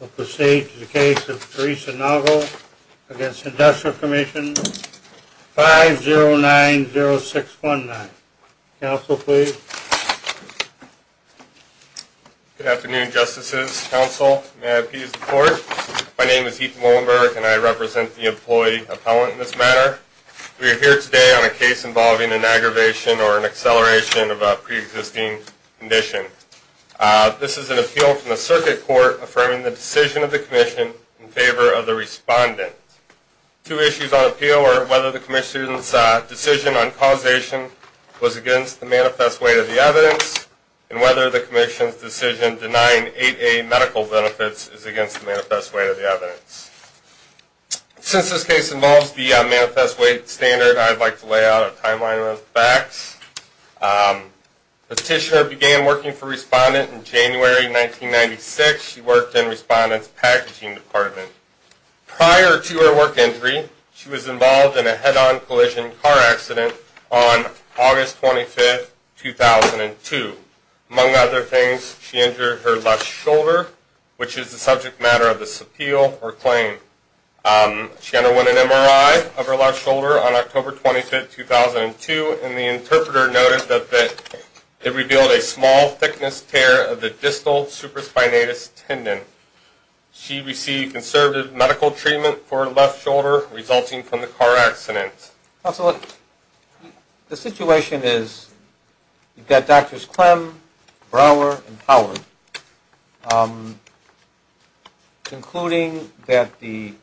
We'll proceed to the case of Teresa Noggle v. Industrial Commission 5090619. Counsel, please. Good afternoon, Justices, Counsel. May I appease the Court? My name is Ethan Wallenberg, and I represent the employee appellant in this matter. We are here today on a case involving an aggravation or an acceleration of a pre-existing condition. This is an appeal from the Circuit Court affirming the decision of the Commission in favor of the respondent. Two issues on appeal are whether the Commission's decision on causation was against the manifest weight of the evidence, and whether the Commission's decision denying 8A medical benefits is against the manifest weight of the evidence. Since this case involves the manifest weight standard, I'd like to lay out a timeline of facts. Petitioner began working for respondent in January 1996. She worked in respondent's packaging department. Prior to her work injury, she was involved in a head-on collision car accident on August 25, 2002. Among other things, she injured her left shoulder, which is the subject matter of this appeal or claim. She underwent an MRI of her left shoulder on October 25, 2002, and the interpreter noted that it revealed a small thickness tear of the distal supraspinatus tendon. She received conservative medical treatment for her left shoulder, resulting from the car accident. Counselor, the situation is you've got Drs. Clem, Brower, and Howard concluding that the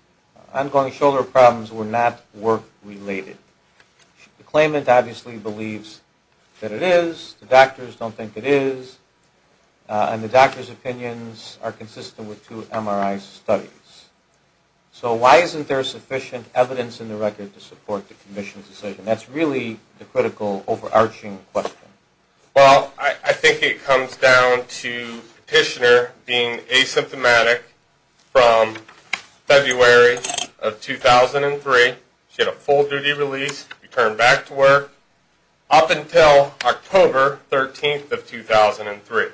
ongoing shoulder problems were not work-related. The claimant obviously believes that it is, the doctors don't think it is, and the doctors' opinions are consistent with two MRI studies. So why isn't there sufficient evidence in the record to support the commission's decision? That's really the critical overarching question. Well, I think it comes down to Petitioner being asymptomatic from February of 2003. She had a full duty release, returned back to work, up until October 13, 2003.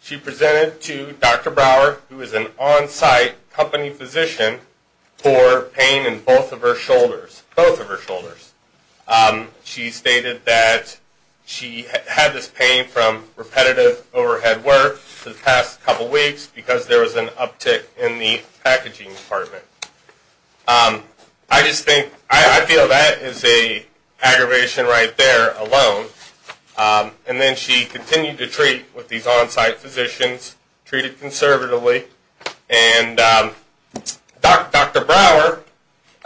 She presented to Dr. Brower, who is an on-site company physician, for pain in both of her shoulders, both of her shoulders. She stated that she had this pain from repetitive overhead work for the past couple weeks because there was an uptick in the packaging department. I just think, I feel that is an aggravation right there alone. And then she continued to treat with these on-site physicians, treated conservatively. And Dr. Brower,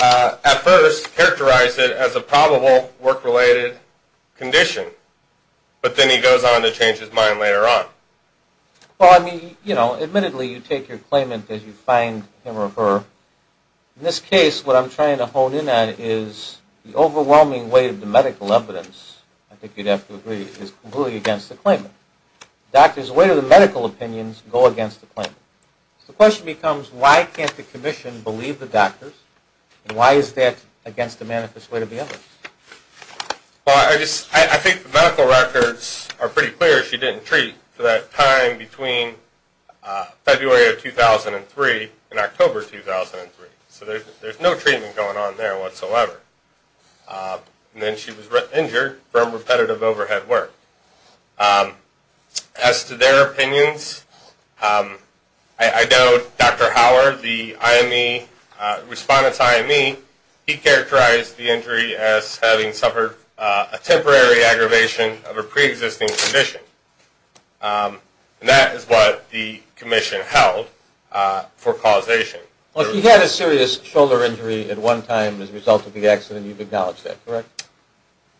at first, characterized it as a probable work-related condition. But then he goes on to change his mind later on. Well, I mean, you know, admittedly, you take your claimant as you find him or her. In this case, what I'm trying to hone in on is the overwhelming weight of the medical evidence, I think you'd have to agree, is completely against the claimant. Doctors' weight of the medical opinions go against the claimant. So the question becomes, why can't the commission believe the doctors? And why is that against the manifest weight of the evidence? Well, I think the medical records are pretty clear. She didn't treat for that time between February of 2003 and October 2003. So there's no treatment going on there whatsoever. And then she was injured from repetitive overhead work. As to their opinions, I know Dr. Howard, the IME, respondent's IME, he characterized the injury as having suffered a temporary aggravation of a preexisting condition. And that is what the commission held for causation. Well, she had a serious shoulder injury at one time as a result of the accident. You've acknowledged that, correct?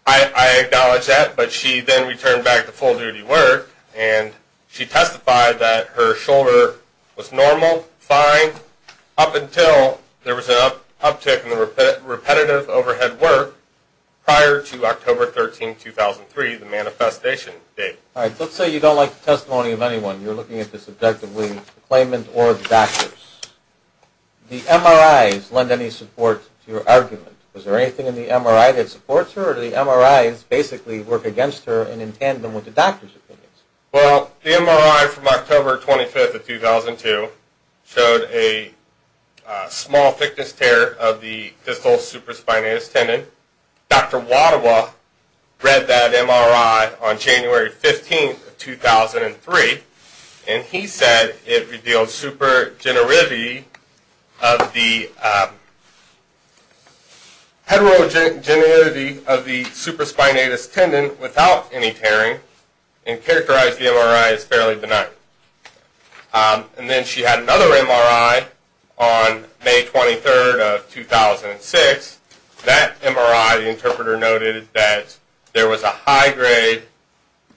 I acknowledge that, but she then returned back to full-duty work. And she testified that her shoulder was normal, fine, up until there was an uptick in the repetitive overhead work prior to October 13, 2003, the manifestation date. All right, let's say you don't like the testimony of anyone. You're looking at this objectively, the claimant or the doctors. Was there anything in the MRI that supports her, or did the MRIs basically work against her and entangle them with the doctors' opinions? Well, the MRI from October 25, 2002 showed a small thickness tear of the distal supraspinatus tendon. Dr. Wadawa read that MRI on January 15, 2003, and he said it revealed heterogeneity of the supraspinatus tendon without any tearing and characterized the MRI as fairly benign. And then she had another MRI on May 23, 2006. That MRI, the interpreter noted that there was a high-grade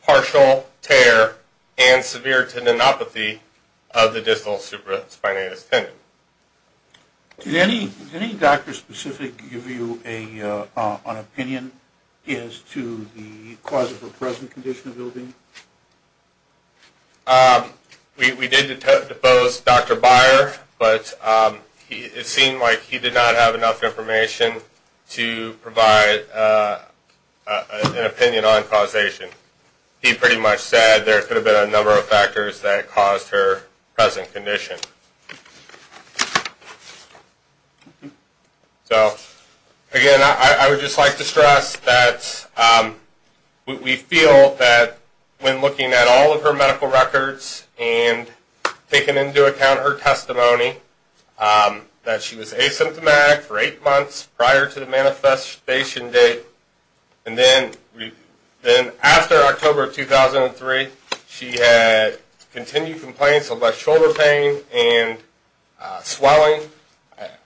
partial tear and severe tendinopathy of the distal supraspinatus tendon. Did any doctor specifically give you an opinion as to the cause of her present condition of ill-being? We did depose Dr. Byer, but it seemed like he did not have enough information to provide an opinion on causation. He pretty much said there could have been a number of factors that caused her present condition. So, again, I would just like to stress that we feel that when looking at all of her medical records and taking into account her testimony, that she was asymptomatic for eight months prior to the manifestation date. And then after October 2003, she had continued complaints about shoulder pain and swelling.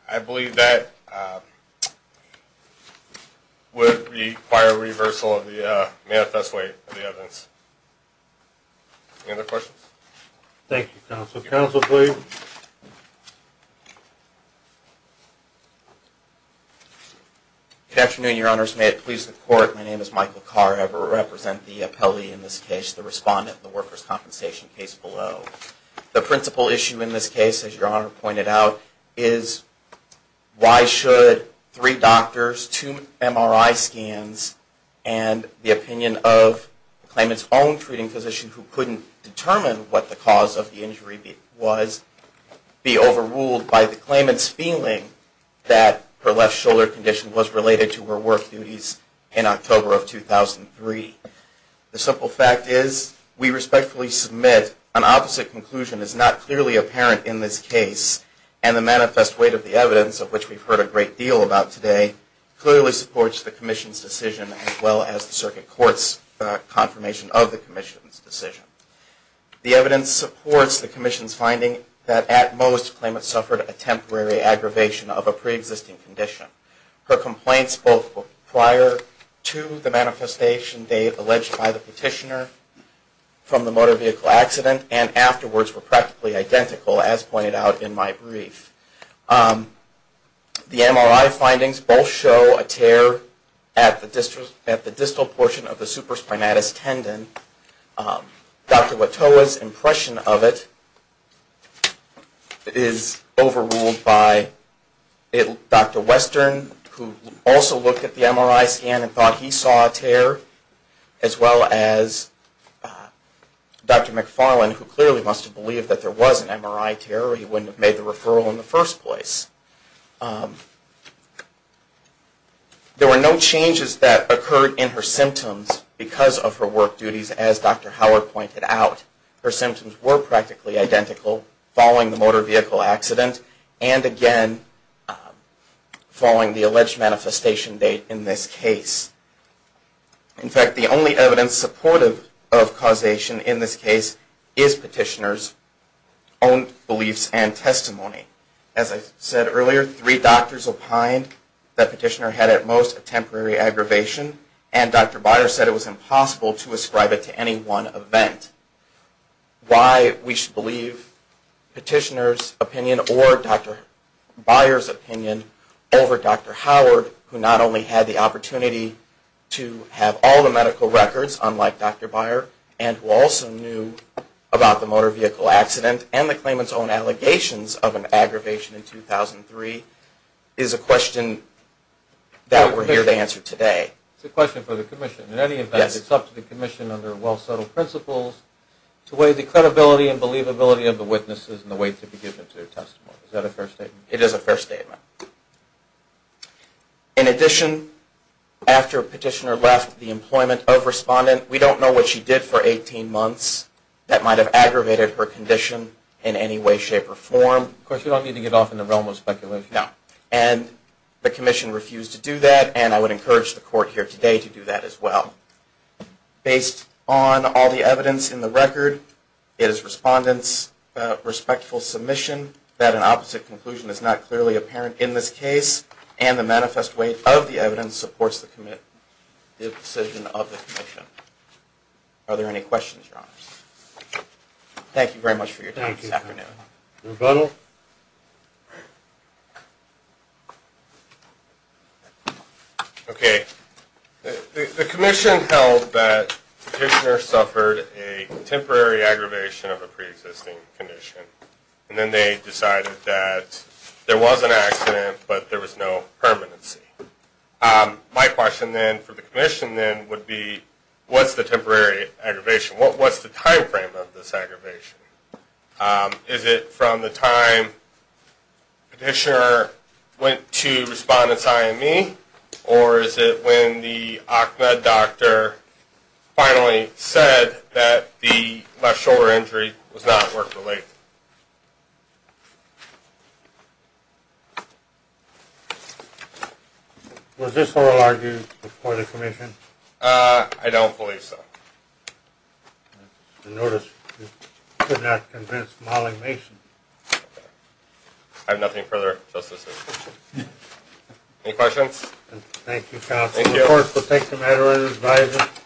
I believe that would require reversal of the manifest weight of the evidence. Any other questions? Thank you, counsel. Counsel, please. Good afternoon, Your Honors. May it please the Court, my name is Michael Carr. I represent the appellee in this case, the respondent in the workers' compensation case below. The principal issue in this case, as Your Honor pointed out, is why should three doctors, two MRI scans, and the opinion of the claimant's own treating physician, who couldn't determine what the cause of the injury was, be overruled by the claimant's feeling that her left shoulder condition was related to her work duties in October of 2003? The simple fact is we respectfully submit an opposite conclusion is not clearly apparent in this case, and the manifest weight of the evidence, of which we've heard a great deal about today, clearly supports the Commission's decision as well as the Circuit Court's confirmation of the Commission's decision. The evidence supports the Commission's finding that at most, the claimant suffered a temporary aggravation of a pre-existing condition. Her complaints both prior to the manifestation date alleged by the petitioner from the motor vehicle accident, and afterwards were practically identical, as pointed out in my brief. The MRI findings both show a tear at the distal portion of the supraspinatus tendon. Dr. Watoa's impression of it is overruled by Dr. Western, who also looked at the MRI scan and thought he saw a tear, as well as Dr. McFarlane, who clearly must have believed that there was an MRI tear, or he wouldn't have made the referral in the first place. There were no changes that occurred in her symptoms because of her work duties, as Dr. Howard pointed out. Her symptoms were practically identical following the motor vehicle accident, and again, following the alleged manifestation date in this case. In fact, the only evidence supportive of causation in this case is petitioner's own beliefs and testimony. As I said earlier, three doctors opined that petitioner had at most a temporary aggravation, and Dr. Byer said it was impossible to ascribe it to any one event. Why we should believe petitioner's opinion or Dr. Byer's opinion over Dr. Howard, who not only had the opportunity to have all the medical records, unlike Dr. Byer, and who also knew about the motor vehicle accident and the claimant's own allegations of an aggravation in 2003, is a question that we're here to answer today. It's a question for the Commission. In any event, it's up to the Commission, under well-settled principles, to weigh the credibility and believability of the witnesses and the weight to be given to their testimony. Is that a fair statement? It is a fair statement. In addition, after petitioner left the employment of respondent, we don't know what she did for 18 months that might have aggravated her condition in any way, shape, or form. Of course, you don't need to get off in the realm of speculation. No. And the Commission refused to do that, and I would encourage the Court here today to do that as well. Based on all the evidence in the record, it is respondent's respectful submission that an opposite conclusion is not clearly apparent in this case, and the manifest weight of the evidence supports the decision of the Commission. Are there any questions, Your Honors? Thank you very much for your time this afternoon. Rebuttal? Okay. The Commission held that petitioner suffered a temporary aggravation of a preexisting condition, and then they decided that there was an accident, but there was no permanency. My question then for the Commission then would be, what's the temporary aggravation? What's the time frame of this aggravation? Is it from the time petitioner went to respondent's IME, or is it when the OCMA doctor finally said that the left shoulder injury was not work-related? Was this oral argument before the Commission? I don't believe so. I notice you could not convince Molly Mason. I have nothing further to assist with. Any questions? Thank you, Counsel. Of course, we'll take the matter unadvised.